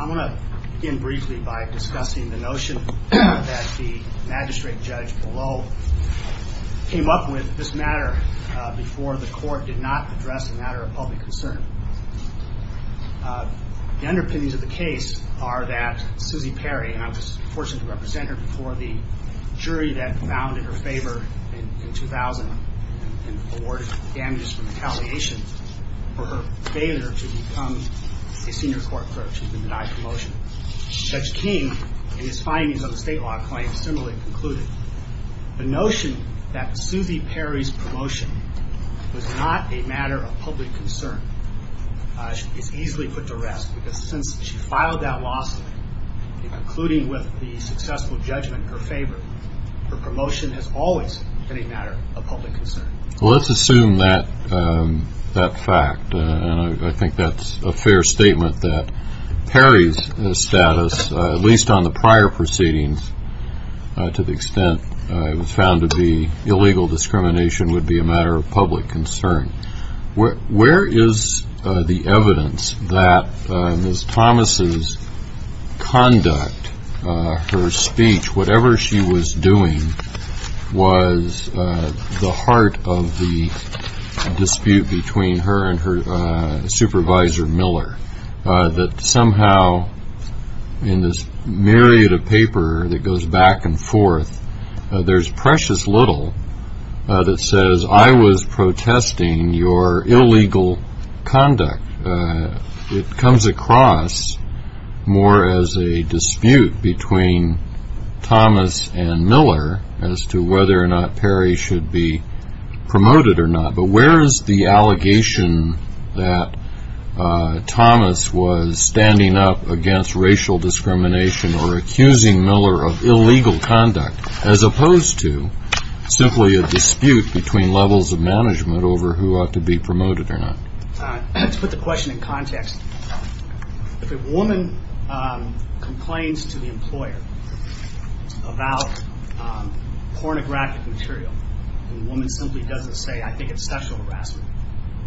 I'm going to begin briefly by discussing the notion that the magistrate judge below came up with this matter before the court did not address a matter of public concern. The underpinnings of the case are that Susie Perry, and I was fortunate to represent her before the jury that bounded her favor in 2000 and awarded damages for retaliation for her failure to become a senior court clerk. She was denied promotion. Judge King, in his findings on the state law claim, similarly concluded the notion that Susie Perry's promotion was not a matter of public concern. She is easily put to rest because since she filed that lawsuit, concluding with the successful judgment in her favor, her promotion has always been a matter of public concern. Well, let's assume that fact. I think that's a fair statement that Perry's status, at least on the prior proceedings, to the extent it was found to be illegal discrimination, would be a matter of public concern. Where is the evidence that Ms. Thomas' conduct, her speech, whatever she was doing, was the heart of the dispute between her and her supervisor, Miller, that somehow in this myriad of paper that goes back and forth, there's precious little that says, I was protesting your illegal conduct. It comes across more as a dispute between Thomas and Miller as to whether or not Perry should be promoted or not. But where is the allegation that Thomas was standing up against racial discrimination or accusing Miller of simply a dispute between levels of management over who ought to be promoted or not? Let's put the question in context. If a woman complains to the employer about pornographic material, and the woman simply doesn't say, I think it's sexual harassment,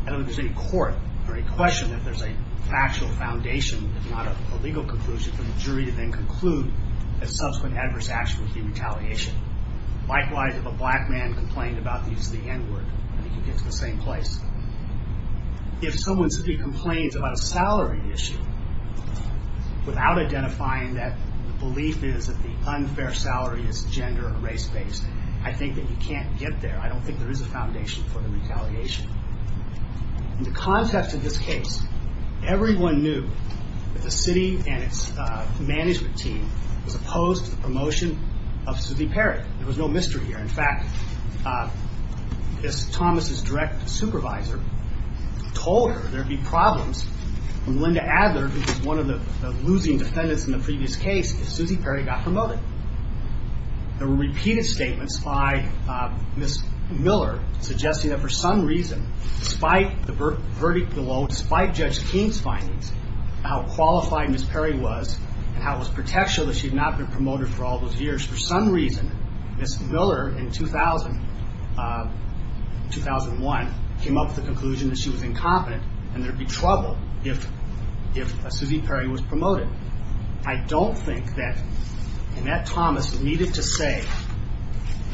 I don't think there's any court or any question that there's a factual foundation, if not a legal conclusion, for the jury to then conclude that subsequent adverse action would be retaliation. Likewise, if a black man complained about the use of the N-word, I think you get to the same place. If someone simply complains about a salary issue without identifying that the belief is that the unfair salary is gender or race-based, I think that you can't get there. I don't think there is a foundation for the retaliation. In the context of this case, everyone knew that the city and its management team was opposed to the promotion of Sidney Perry. There was no mystery here. In fact, Thomas' direct supervisor told her there would be problems when Melinda Adler, who was one of the losing defendants in the previous case, if Susie Perry got promoted. There were repeated statements by Ms. Miller suggesting that for some reason, despite the verdict below, despite Judge King's findings, how qualified Ms. Perry was and how it was pretentious that she had not been promoted for all those years, for some reason, Ms. Miller in 2001 came up with the conclusion that she was incompetent and there would be trouble if Susie Perry was promoted. I don't think that Annette Thomas needed to say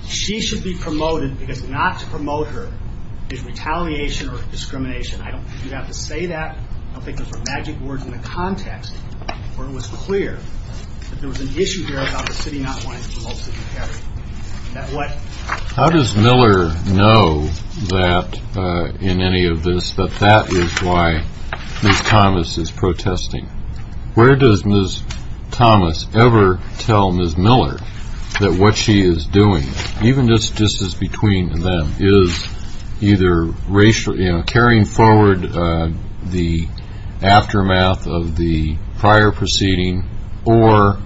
she should be promoted because not to promote her is retaliation or discrimination. I don't think you have to say that. I don't think those are magic words in the context where it was clear that there was an issue here about the city not wanting to promote Susie Perry. How does Miller know that, in any of this, that that is why Ms. Thomas is protesting? Where does Ms. Thomas ever tell Ms. Miller that what she is doing, even just as between them, is either carrying forward the aftermath of the prior proceeding or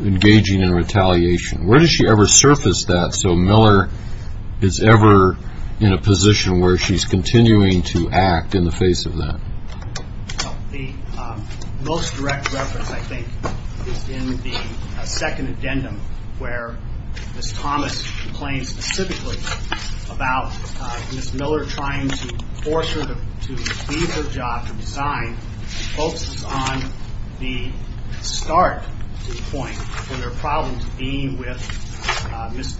engaging in retaliation? Where does she ever surface that so Miller is ever in a position where she is continuing to act in the face of that? The most direct reference, I think, is in the second addendum where Ms. Thomas complains specifically about Ms. Miller trying to force her to leave her job to resign and focuses on the start to the point where there are problems being with Ms.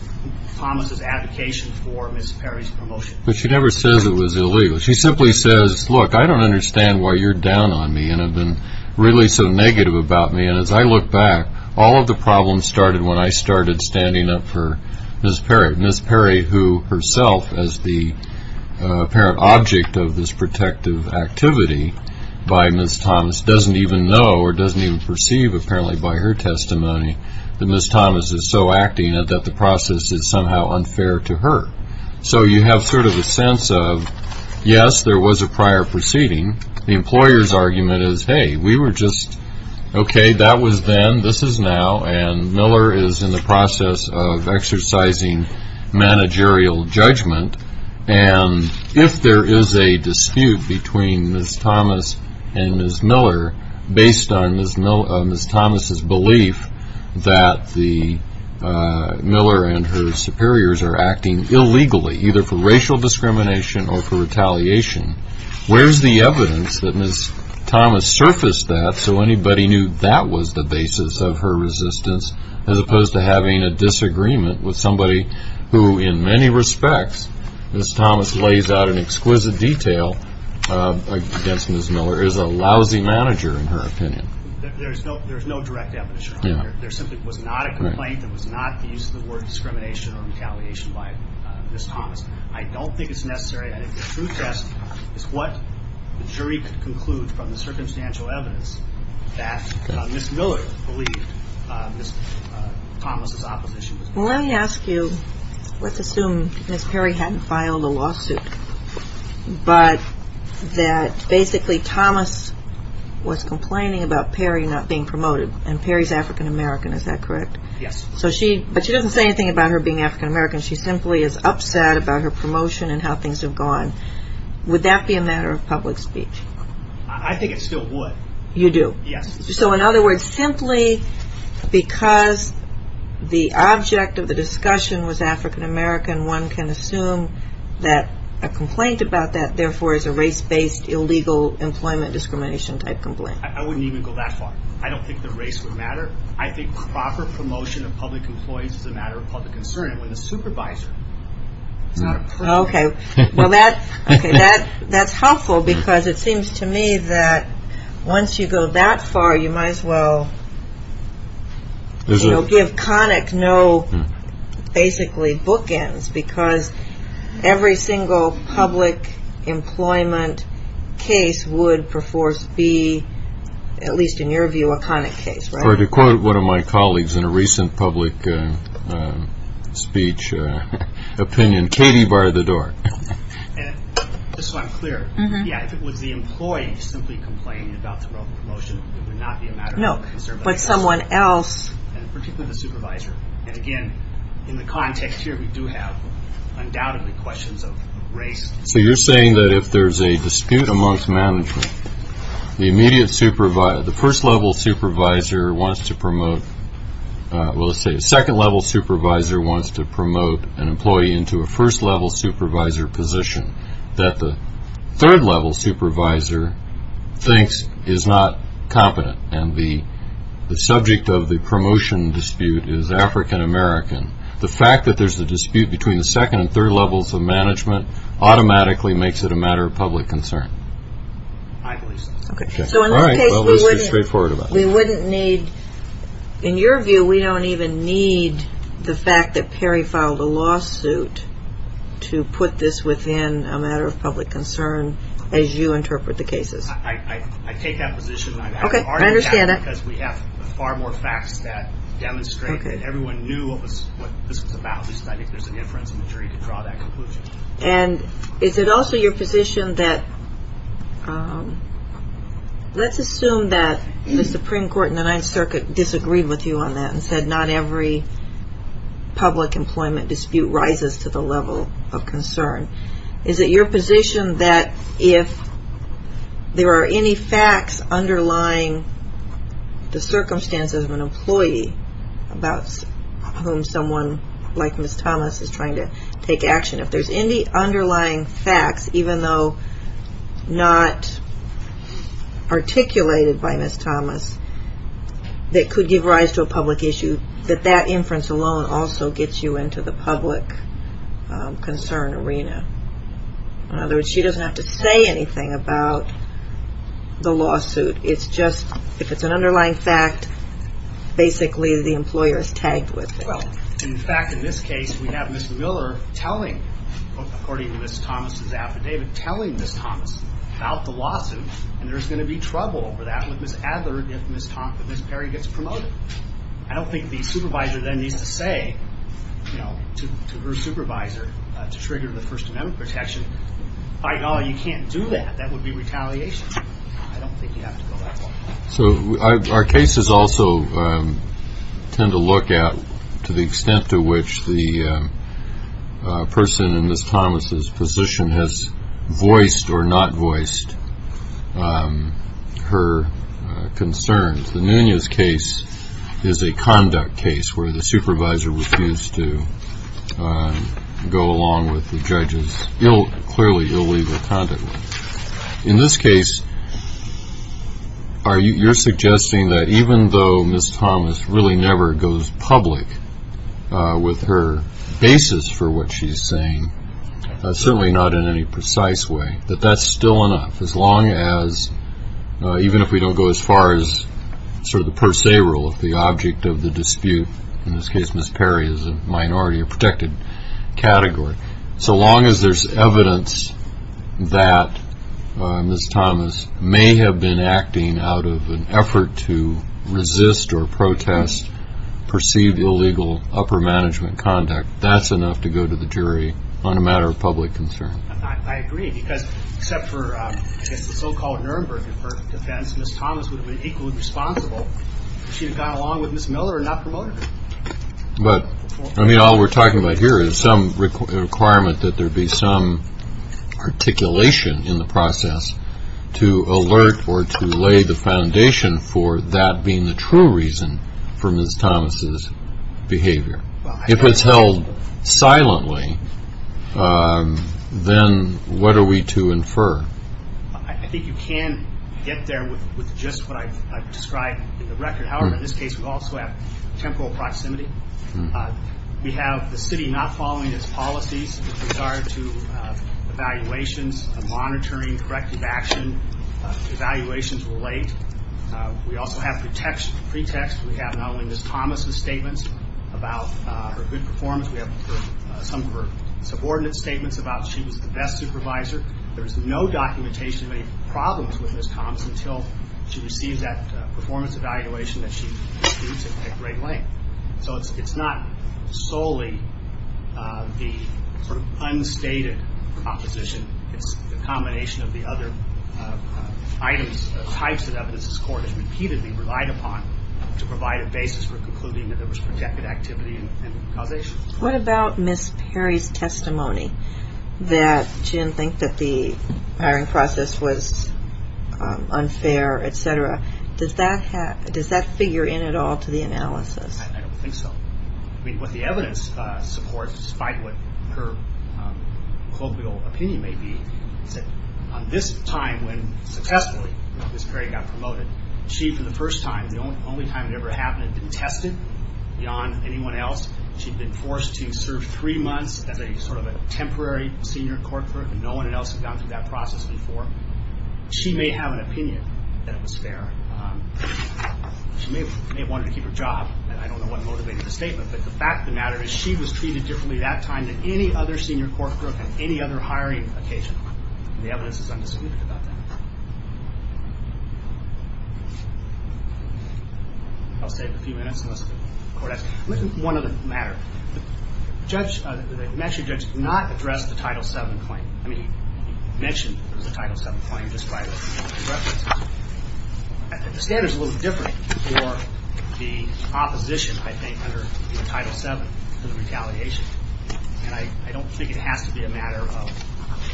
Thomas' advocation for Ms. Perry's promotion. But she never says it was illegal. She simply says, look, I don't understand why you're down on me and have been really so negative about me. And as I look back, all of the problems started when I started standing up for Ms. Perry. Ms. Perry, who herself, as the apparent object of this protective activity by Ms. Thomas, doesn't even know or doesn't even perceive, apparently by her testimony, that Ms. Thomas is so acting that the process is somehow unfair to her. So you have sort of a sense of, yes, there was a prior proceeding. The employer's argument is, hey, we were just, okay, that was then, this is now, and Miller is in the process of exercising managerial judgment. And if there is a dispute between Ms. Thomas and Ms. Miller based on Ms. Thomas' belief that Miller and her superiors are acting illegally, either for racial discrimination or for retaliation, where's the evidence that Ms. Thomas surfaced that so anybody knew that was the basis of her resistance as opposed to having a disagreement with somebody who, in many respects, Ms. Thomas lays out in exquisite detail against Ms. Miller is a lousy manager, in her opinion. There's no direct evidence, Your Honor. There simply was not a complaint. There was not the use of the word discrimination or retaliation by Ms. Thomas. I don't think it's necessary. I think the true test is what the jury could conclude from the circumstantial evidence that Ms. Miller believed Ms. Thomas' opposition was. Well, let me ask you, let's assume Ms. Perry hadn't filed a lawsuit, but that basically Thomas was complaining about Perry not being promoted and Perry's African-American, is that correct? Yes. But she doesn't say anything about her being African-American. She simply is upset about her promotion and how things have gone. Would that be a matter of public speech? I think it still would. You do? Yes. So in other words, simply because the object of the discussion was African-American, one can assume that a complaint about that, therefore, is a race-based illegal employment discrimination type complaint. I wouldn't even go that far. I don't think the race would matter. I think proper promotion of public employees is a matter of public concern. I'm a supervisor. Okay. Well, that's helpful because it seems to me that once you go that far, you might as well give Connick no, basically, bookends because every single public employment case would, at least in your view, be a Connick case, right? Or to quote one of my colleagues in a recent public speech opinion, Katie barred the door. Just so I'm clear, yeah, if it was the employee who simply complained about the role of promotion, it would not be a matter of public concern. No, but someone else. And particularly the supervisor. And again, in the context here, we do have undoubtedly questions of race. So you're saying that if there's a dispute amongst management, the immediate supervisor, the first-level supervisor wants to promote, well, let's say the second-level supervisor wants to promote an employee into a first-level supervisor position that the third-level supervisor thinks is not competent. And the subject of the promotion dispute is African-American. The fact that there's a dispute between the second and third levels of management automatically makes it a matter of public concern. I believe so. Okay. So in that case, we wouldn't need, in your view, we don't even need the fact that Perry filed a lawsuit to put this within a matter of public concern as you interpret the cases. I take that position. Okay. I understand it. Because we have far more facts that demonstrate that everyone knew what this was about. At least I think there's an inference in the jury to draw that conclusion. And is it also your position that let's assume that the Supreme Court and the Ninth Circuit disagreed with you on that and said not every public employment dispute rises to the level of concern. Is it your position that if there are any facts underlying the circumstances of an employee about whom someone like Ms. Thomas is trying to take action, if there's any underlying facts, even though not articulated by Ms. Thomas, that could give rise to a public issue, that that inference alone also gets you into the public concern arena? In other words, she doesn't have to say anything about the lawsuit. It's just, if it's an underlying fact, basically the employer is tagged with it. Well, in fact, in this case, we have Ms. Miller telling, according to Ms. Thomas' affidavit, telling Ms. Thomas about the lawsuit. And there's going to be trouble for that with Ms. Adler if Ms. Perry gets promoted. I don't think the supervisor then needs to say to her supervisor to trigger the first amendment protection, you can't do that. That would be retaliation. I don't think you have to go that far. So our cases also tend to look at to the extent to which the person in Ms. Thomas' position has voiced or not voiced her concerns. The Nunez case is a conduct case where the supervisor refused to go along with the judge's clearly illegal conduct. In this case, you're suggesting that even though Ms. Thomas really never goes public with her basis for what she's saying, certainly not in any precise way, that that's still enough as long as, even if we don't go as far as sort of the per se rule, if the object of the dispute, in this case Ms. Perry is a minority, a protected category, so long as there's evidence that Ms. Thomas may have been acting out of an effort to resist or protest perceived illegal upper management conduct, that's enough to go to the jury on a matter of public concern. I agree, because except for, I guess, the so-called Nuremberg defense, Ms. Thomas would have been equally responsible if she had gone along with Ms. Miller and not promoted her. But, I mean, all we're talking about here is some requirement that there be some articulation in the process to alert or to lay the foundation for that being the true reason for Ms. Thomas' behavior. If it's held silently, then what are we to infer? I think you can get there with just what I've described in the record. However, in this case, we also have temporal proximity. We have the city not following its policies with regard to evaluations and monitoring, corrective action, evaluations relate. We also have pretext. We have not only Ms. Thomas' statements about her good performance, we have some of her subordinate statements about she was the best supervisor. There's no documentation of any problems with Ms. Thomas until she receives that performance evaluation that she disputes at great length. So it's not solely the sort of unstated proposition. It's the combination of the other items, types of evidence this court has repeatedly relied upon to provide a basis for concluding that there was projected activity and causation. What about Ms. Perry's testimony that she didn't think that the hiring process was unfair, etc.? Does that figure in at all to the analysis? I don't think so. What the evidence supports, despite what her colloquial opinion may be, is that on this time when successfully Ms. Perry got promoted, she, for the first time, the only time it ever happened, had been tested beyond anyone else. She'd been forced to serve three months as a sort of a temporary senior court clerk, and no one else had gone through that process before. She may have an opinion that it was fair. She may have wanted to keep her job, and I don't know what motivated the statement, but the fact of the matter is she was treated differently that time than any other senior court clerk on any other hiring occasion. The evidence is undisputed about that. I'll save a few minutes, unless the court asks. One other matter. The judge, the matric judge, did not address the Title VII claim. I mean, he mentioned the Title VII claim, just by reference. The standard's a little different for the opposition, I think, under Title VII to the retaliation, and I don't think it has to be a matter of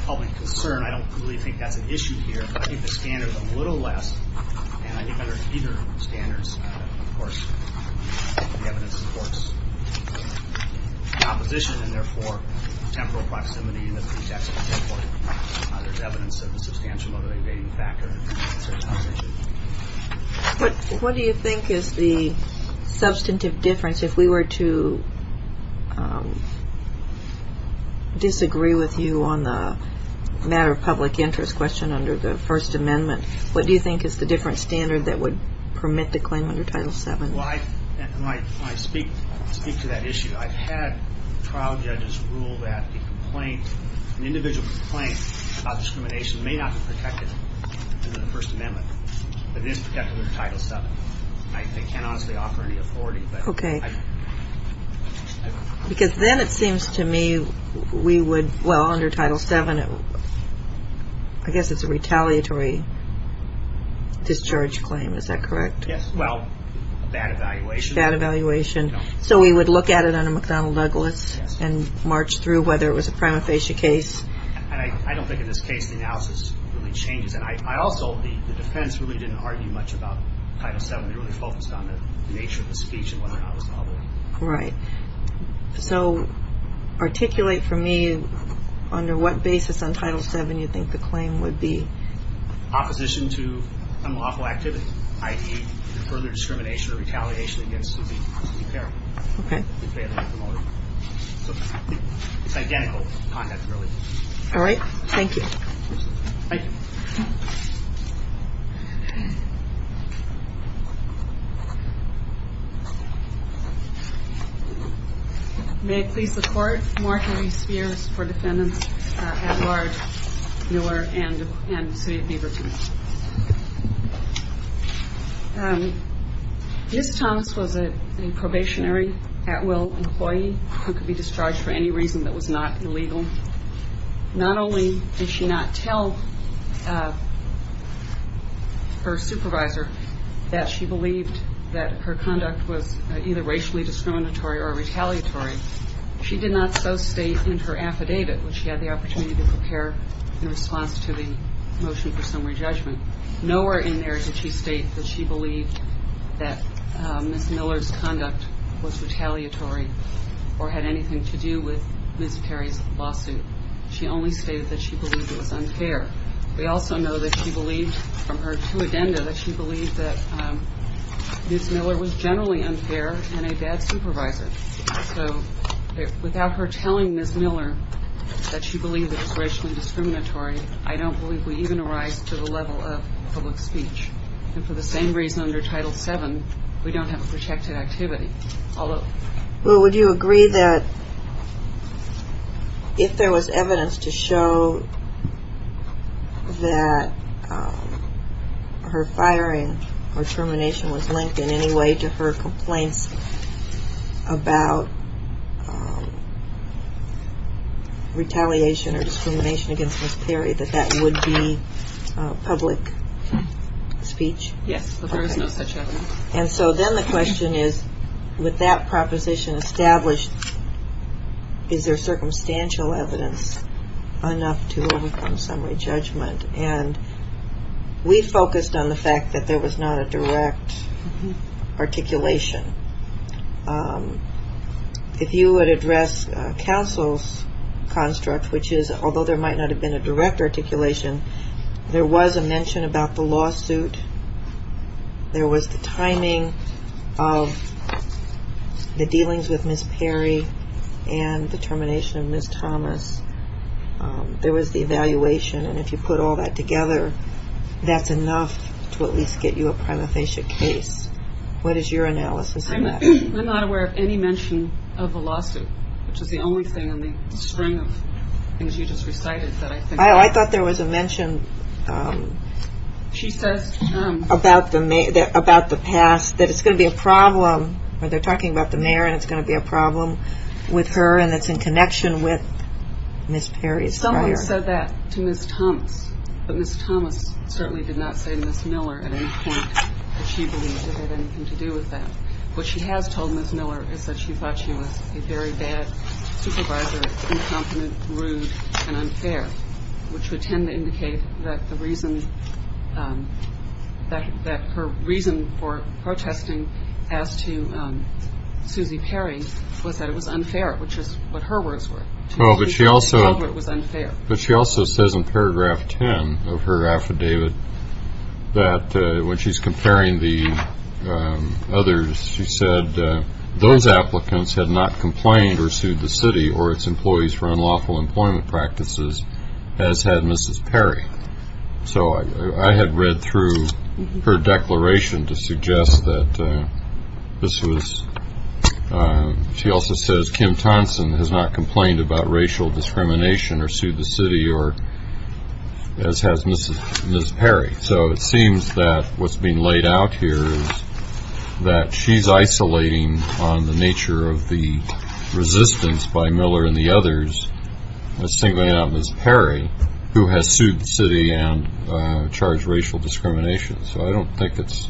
public concern. I don't really think that's an issue here, but I think the standard's a little less, and I think under either standards, of course, the evidence supports the opposition, and therefore, temporal proximity in the pretext of a temporal, there's evidence of a substantial motivating factor in the opposition. What do you think is the substantive difference if we were to disagree with you on the matter of public interest question under the First Amendment? What do you think is the different standard that would permit the claim under Title VII? Well, I speak to that issue. I've had trial judges rule that a complaint, an individual complaint about discrimination may not be protected under the First Amendment, but it is protected under Title VII. I can't honestly offer any authority, because then it seems to me we would, well, under Title VII, I guess it's a retaliatory discharge claim. Is that correct? Yes. Well, a bad evaluation. A bad evaluation. No. So we would look at it under McDonnell Douglas and march through whether it was a prima facie case. I don't think in this case the analysis really changes, and I also, the defense really didn't argue much about Title VII. They really focused on the nature of the speech and whether or not it was novel. Right. So articulate for me under what basis on Title VII you think the claim would be. Opposition to unlawful activity, i.e. further discrimination or retaliation against the parent. Okay. It's identical content, really. All right. Thank you. Thank you. Thank you. May it please the Court, marking these spheres for defendants Edward Miller and Sylvia Beaverton. Ms. Thomas was a probationary at-will employee who could be discharged for any reason that was not illegal. Not only did she not tell her supervisor that she believed that her conduct was either racially discriminatory or retaliatory, she did not so state in her affidavit when she had the opportunity to prepare in response to the motion for summary judgment. Nowhere in there did she state that she believed that Ms. Miller's conduct was retaliatory or had anything to do with Ms. Perry's lawsuit. She only stated that she believed it was unfair. We also know that she believed, from her two addenda, that she believed that Ms. Miller was generally unfair and a bad supervisor. So without her telling Ms. Miller that she believed it was racially discriminatory, I don't believe we even arise to the level of public speech. And for the same reason under Title VII, we don't have a protected activity. Well, would you agree that if there was evidence to show that her firing or termination was linked in any way to her complaints about retaliation or discrimination against Ms. Perry, that that would be public speech? Yes, but there is no such evidence. And so then the question is, with that proposition established, is there circumstantial evidence enough to overcome summary judgment? And we focused on the fact that there was not a direct articulation. If you would address counsel's construct, which is although there might not have been a direct articulation, there was a mention about the lawsuit, there was the timing of the dealings with Ms. Perry and the termination of Ms. Thomas, there was the evaluation. And if you put all that together, that's enough to at least get you a prima facie case. What is your analysis of that? I'm not aware of any mention of the lawsuit, which is the only thing in the string of things you just recited that I think... Oh, I thought there was a mention. She says about the past that it's going to be a problem, or they're talking about the mayor, and it's going to be a problem with her and it's in connection with Ms. Perry's prior... Someone said that to Ms. Thomas, but Ms. Thomas certainly did not say Ms. Miller at any point that she believed it had anything to do with that. What she has told Ms. Miller is that she thought she was a very bad supervisor, incompetent, rude, and unfair, which would tend to indicate that the reason... that her reason for protesting as to Suzy Perry was that it was unfair, which is what her words were. Well, but she also... She felt it was unfair. But she also says in paragraph 10 of her affidavit that when she's comparing the others, she said those applicants had not complained or sued the city or its employees for unlawful employment practices, as had Mrs. Perry. So I had read through her declaration to suggest that this was... She also says Kim Thompson has not complained about racial discrimination or sued the city, or as has Ms. Perry. So it seems that what's being laid out here is that she's isolating on the nature of the resistance by Miller and the others, and singling out Ms. Perry, who has sued the city and charged racial discrimination. So I don't think it's...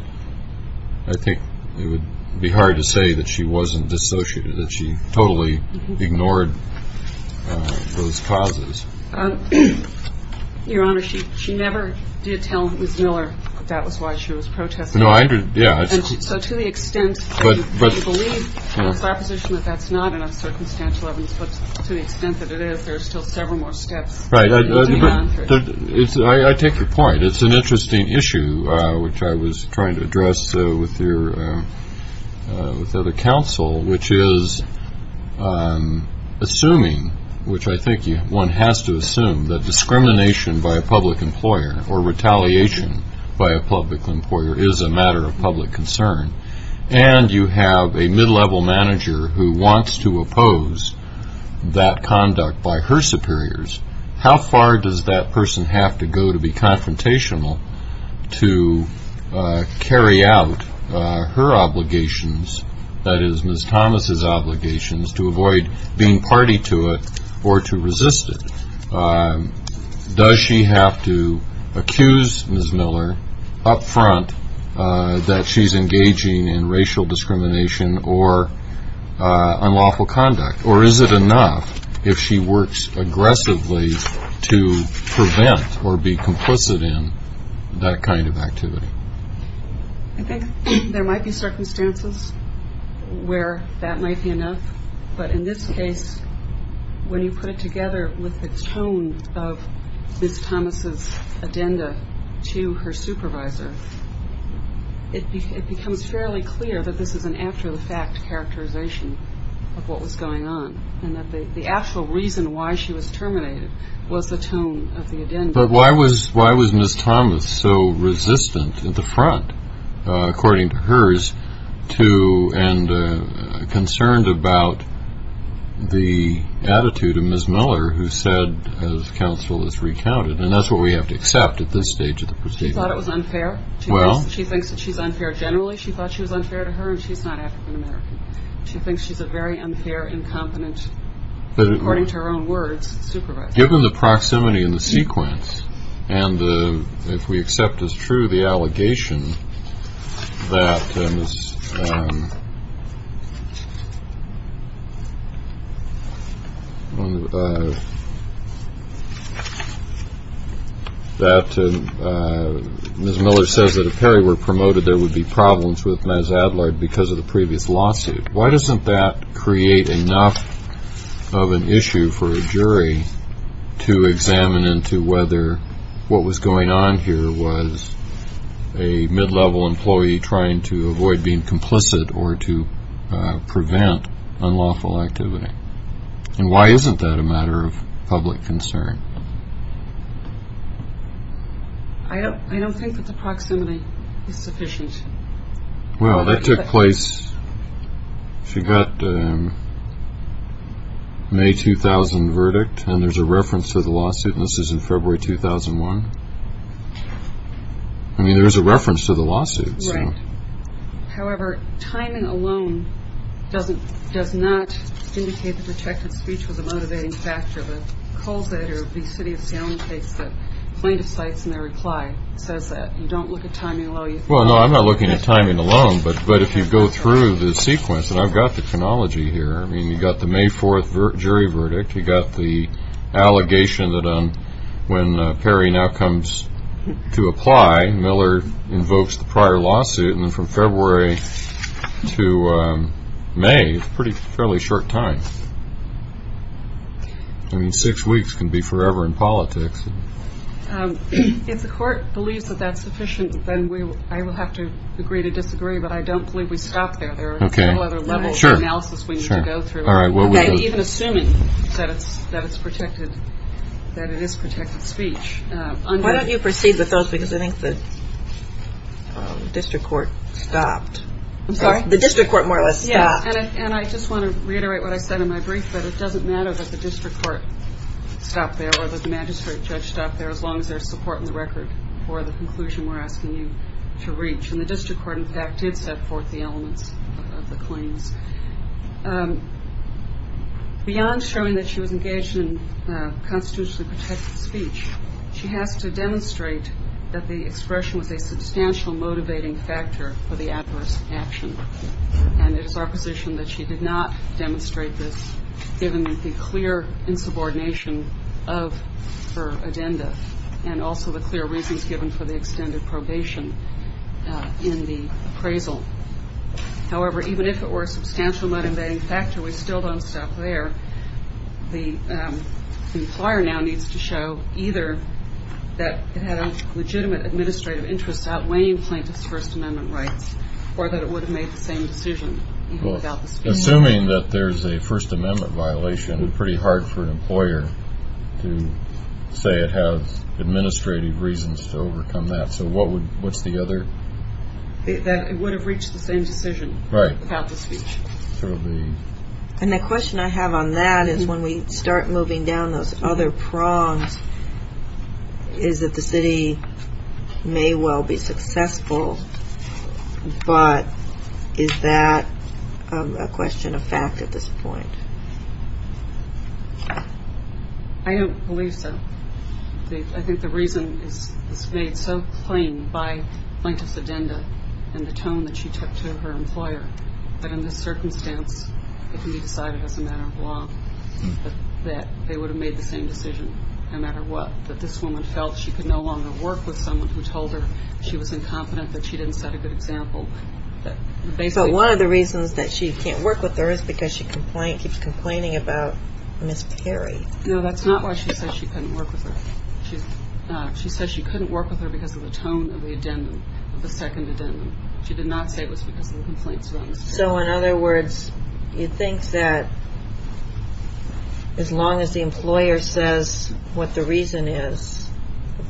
I think it would be hard to say that she wasn't dissociated, that she totally ignored those causes. Your Honor, she never did tell Ms. Miller that that was why she was protesting. No, I didn't. Yeah. So to the extent that you believe in the proposition that that's not an uncircumstantial evidence, but to the extent that it is, there's still several more steps to be gone through. I take your point. It's an interesting issue, which I was trying to address with your other counsel, which is assuming, which I think one has to assume, that discrimination by a public employer or retaliation by a public employer is a matter of public concern, and you have a mid-level manager who wants to oppose that conduct by her superiors, how far does that person have to go to be confrontational to carry out her obligations, that is, Ms. Thomas' obligations, to avoid being party to it or to resist it? Does she have to accuse Ms. Miller up front that she's engaging in racial discrimination or unlawful conduct, or is it enough if she works aggressively to prevent or be complicit in that kind of activity? I think there might be circumstances where that might be enough, but in this case, when you put it together with the tone of Ms. Thomas' addenda to her supervisor, it becomes fairly clear that this is an after-the-fact characterization of what was going on and that the actual reason why she was terminated was the tone of the addenda. But why was Ms. Thomas so resistant at the front, according to hers, and concerned about the attitude of Ms. Miller, who said, as counsel has recounted, and that's what we have to accept at this stage of the procedure. She thought it was unfair. She thinks that she's unfair generally. She thought she was unfair to her, and she's not African-American. She thinks she's a very unfair, incompetent, according to her own words, supervisor. Given the proximity and the sequence, and if we accept as true the allegation that Ms. Miller says that if Perry were promoted, there would be problems with Ms. Adler because of the previous lawsuit, why doesn't that create enough of an issue for a jury to examine into whether what was going on here was a mid-level employee trying to avoid being complicit or to prevent unlawful activity? And why isn't that a matter of public concern? I don't think that the proximity is sufficient. Well, that took place, she got a May 2000 verdict, and there's a reference to the lawsuit, and this is in February 2001. I mean, there's a reference to the lawsuit. Right. However, timing alone does not indicate that protected speech was a motivating factor. The Colzette or the City of Salem case, the plaintiff cites in their reply, says that. You don't look at timing alone. Well, no, I'm not looking at timing alone, but if you go through the sequence, and I've got the chronology here. I mean, you've got the May 4th jury verdict. You've got the allegation that when Perry now comes to apply, Miller invokes the prior lawsuit, and then from February to May, it's a fairly short time. I mean, six weeks can be forever in politics. If the court believes that that's sufficient, then I will have to agree to disagree, but I don't believe we stop there. There are several other levels of analysis we need to go through. Even assuming that it's protected, that it is protected speech. Why don't you proceed with those, because I think the district court stopped. I'm sorry? The district court more or less stopped. Yeah, and I just want to reiterate what I said in my brief, but it doesn't matter that the district court stopped there or that the magistrate judge stopped there as long as there's support in the record for the conclusion we're asking you to reach, and the district court, in fact, did set forth the elements of the claims. Beyond showing that she was engaged in constitutionally protected speech, she has to demonstrate that the expression was a substantial motivating factor for the adverse action, and it is our position that she did not demonstrate this given the clear insubordination of her agenda and also the clear reasons given for the extended probation in the appraisal. However, even if it were a substantial motivating factor, we still don't stop there. The employer now needs to show either that it had a legitimate administrative interest outweighing plaintiff's First Amendment rights or that it would have made the same decision. Assuming that there's a First Amendment violation, it would be pretty hard for an employer to say it has administrative reasons to overcome that. So what's the other? That it would have reached the same decision without the speech. And the question I have on that is when we start moving down those other prongs is that the city may well be successful, but is that a question of fact at this point? I don't believe so. I think the reason is made so plain by plaintiff's agenda and the tone that she took to her employer that in this circumstance it can be decided as a matter of law that they would have made the same decision no matter what, that this woman felt she could no longer work with someone who told her she was incompetent, that she didn't set a good example. But one of the reasons that she can't work with her is because she keeps complaining about Ms. Perry. No, that's not why she says she couldn't work with her. She says she couldn't work with her because of the tone of the second addendum. She did not say it was because of the complaints about Ms. Perry. So in other words, you think that as long as the employer says what the reason is,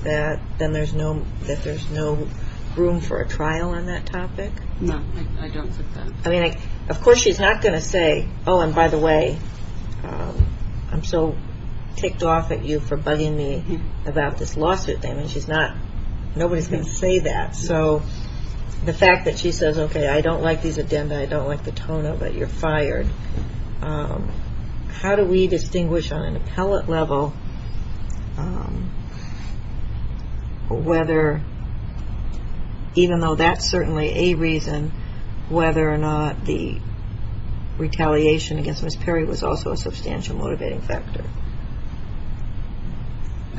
that there's no room for a trial on that topic? No, I don't think that. Of course she's not going to say, oh, and by the way, I'm so ticked off at you for bugging me about this lawsuit thing. Nobody's going to say that. So the fact that she says, okay, I don't like these addenda, I don't like the tone of it, you're fired. How do we distinguish on an appellate level whether, even though that's certainly a reason, whether or not the retaliation against Ms. Perry was also a substantial motivating factor?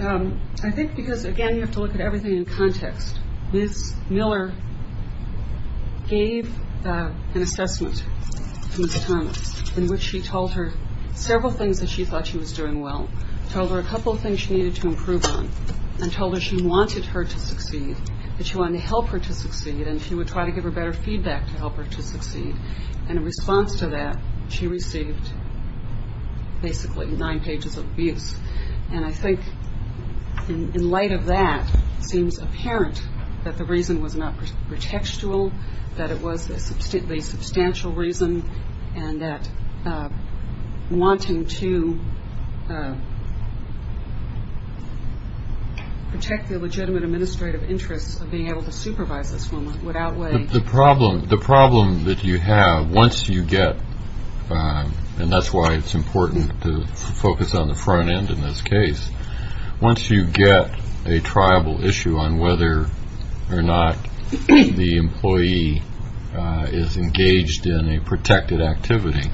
I think because, again, you have to look at everything in context. Ms. Miller gave an assessment to Ms. Thomas in which she told her several things that she thought she was doing well, told her a couple of things she needed to improve on, and told her she wanted her to succeed, that she wanted to help her to succeed, and she would try to give her better feedback to help her to succeed. And in response to that, she received basically nine pages of abuse. And I think in light of that, it seems apparent that the reason was not pretextual, that it was a substantially substantial reason, and that wanting to protect the legitimate administrative interests of being able to supervise this woman would outweigh. The problem that you have once you get, and that's why it's important to focus on the front end in this case, once you get a triable issue on whether or not the employee is engaged in a protected activity,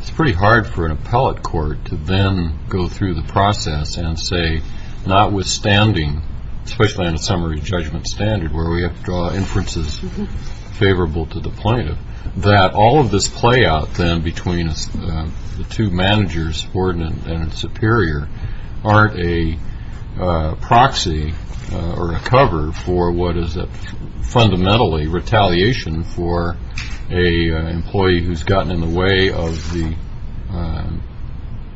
it's pretty hard for an appellate court to then go through the process and say, notwithstanding, especially on a summary judgment standard where we have to draw inferences favorable to the plaintiff, that all of this play out then between the two managers, ordnance and superior, aren't a proxy or a cover for what is fundamentally retaliation for an employee who's gotten in the way of the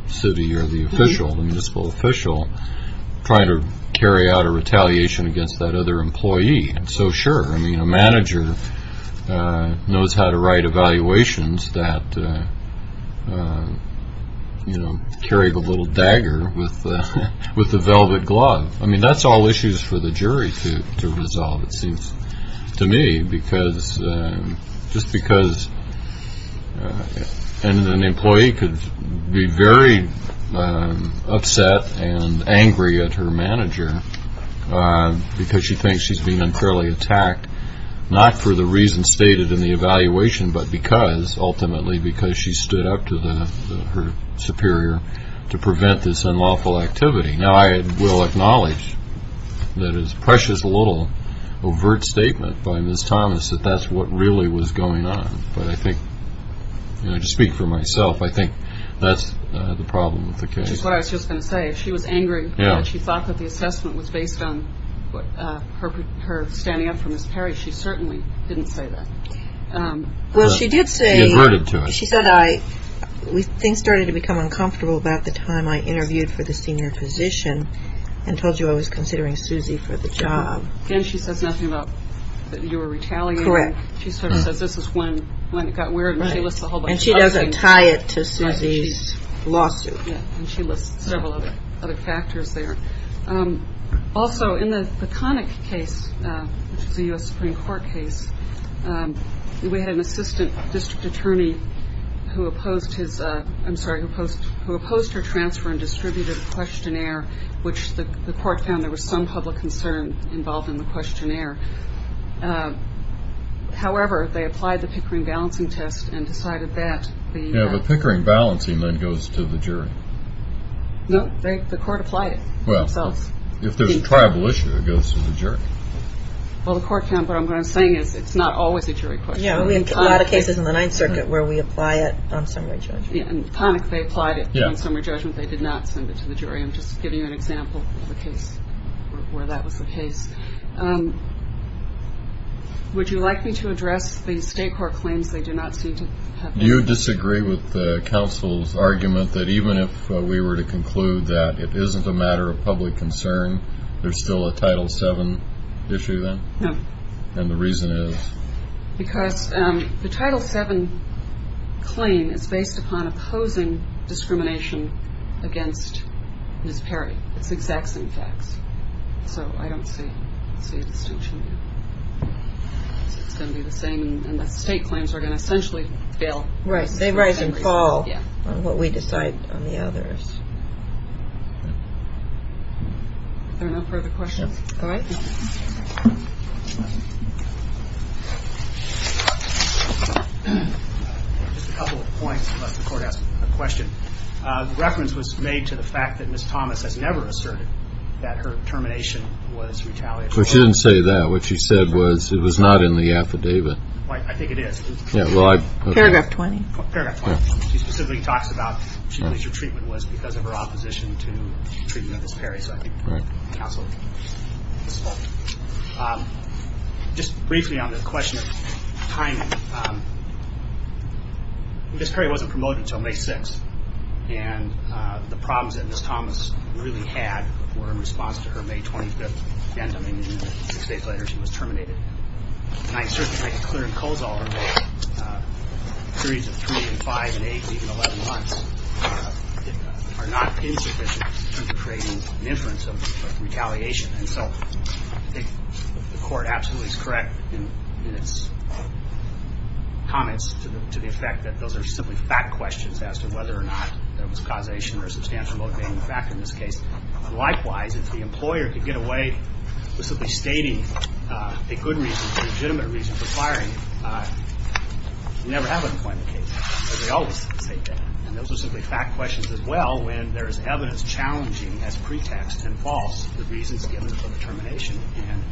city or the official, the municipal official, trying to carry out a retaliation against that other employee. So sure, I mean, a manager knows how to write evaluations that carry the little dagger with the velvet glove. I mean, that's all issues for the jury to resolve, it seems to me, just because an employee could be very upset and angry at her manager because she thinks she's been unfairly attacked, not for the reasons stated in the evaluation, but because, ultimately, because she stood up to her superior to prevent this unlawful activity. Now, I will acknowledge that it's a precious little overt statement by Ms. Thomas that that's what really was going on, but I think, you know, to speak for myself, I think that's the problem with the case. Which is what I was just going to say. If she was angry that she thought that the assessment was based on her standing up for Ms. Perry, she certainly didn't say that. Well, she did say... She adverted to it. She said things started to become uncomfortable about the time I interviewed for the senior position and told you I was considering Suzy for the job. Again, she says nothing about that you were retaliating. Correct. She sort of says this is when it got weird, and she lists a whole bunch of other things. And she doesn't tie it to Suzy's lawsuit. Yeah, and she lists several other factors there. Also, in the Connick case, which is a U.S. Supreme Court case, we had an assistant district attorney who opposed her transfer and distributed a questionnaire, which the court found there was some public concern involved in the questionnaire. However, they applied the Pickering balancing test and decided that the... Yeah, but Pickering balancing then goes to the jury. No, the court applied it themselves. Well, if there's a tribal issue, it goes to the jury. Well, the court found what I'm saying is it's not always a jury question. Yeah, we have a lot of cases in the Ninth Circuit where we apply it on summary judgment. Yeah, and Connick, they applied it on summary judgment. They did not send it to the jury. I'm just giving you an example of a case where that was the case. Would you like me to address the state court claims they do not seem to have... Do you disagree with the counsel's argument that even if we were to conclude that it isn't a matter of public concern, there's still a Title VII issue then? No. And the reason is? Because the Title VII claim is based upon opposing discrimination against Miss Perry. It's the exact same facts. So I don't see a distinction there. It's going to be the same, and the state claims are going to essentially fail. Right. They rise and fall on what we decide on the others. Are there no further questions? No. All right. Just a couple of points before I ask a question. The reference was made to the fact that Miss Thomas has never asserted that her termination was retaliatory. She didn't say that. What she said was it was not in the affidavit. I think it is. Paragraph 20. Paragraph 20. She specifically talks about she believes her treatment was because of her opposition to the treatment of Miss Perry. So I think the counsel is wrong. Just briefly on the question of timing, Miss Perry wasn't promoted until May 6th, and the problems that Miss Thomas really had were in response to her May 25th end. I mean, six days later, she was terminated. And I certainly think a clear and close order, a series of three and five and eight, even 11 months, are not insufficient to creating an inference of retaliation. And so I think the court absolutely is correct in its comments to the effect that those are simply fact questions as to whether or not there was causation or substantial motivating factor in this case. Likewise, if the employer could get away with simply stating a good reason, a legitimate reason for firing you, you never have a deployment case. They always state that. And those are simply fact questions as well when there is evidence challenging as pretext and false the reasons given for the termination. And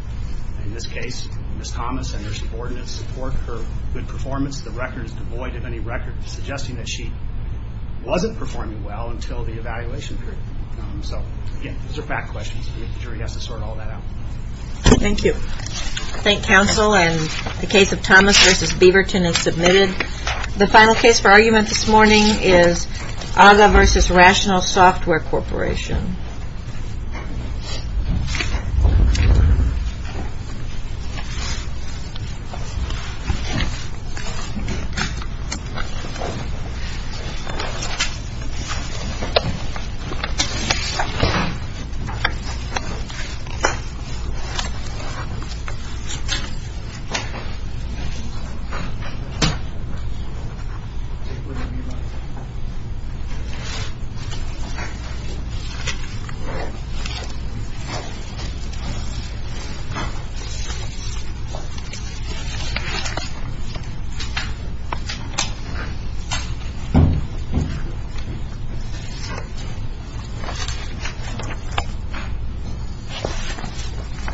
in this case, Miss Thomas and her subordinates support her good performance. The record is devoid of any record suggesting that she wasn't performing well until the evaluation period. So, again, those are fact questions. The jury has to sort all that out. Thank you. Thank you, counsel. And the case of Thomas v. Beaverton is submitted. The final case for argument this morning is AGA v. Rational Software Corporation. Thank you. Thank you.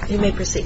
You may proceed.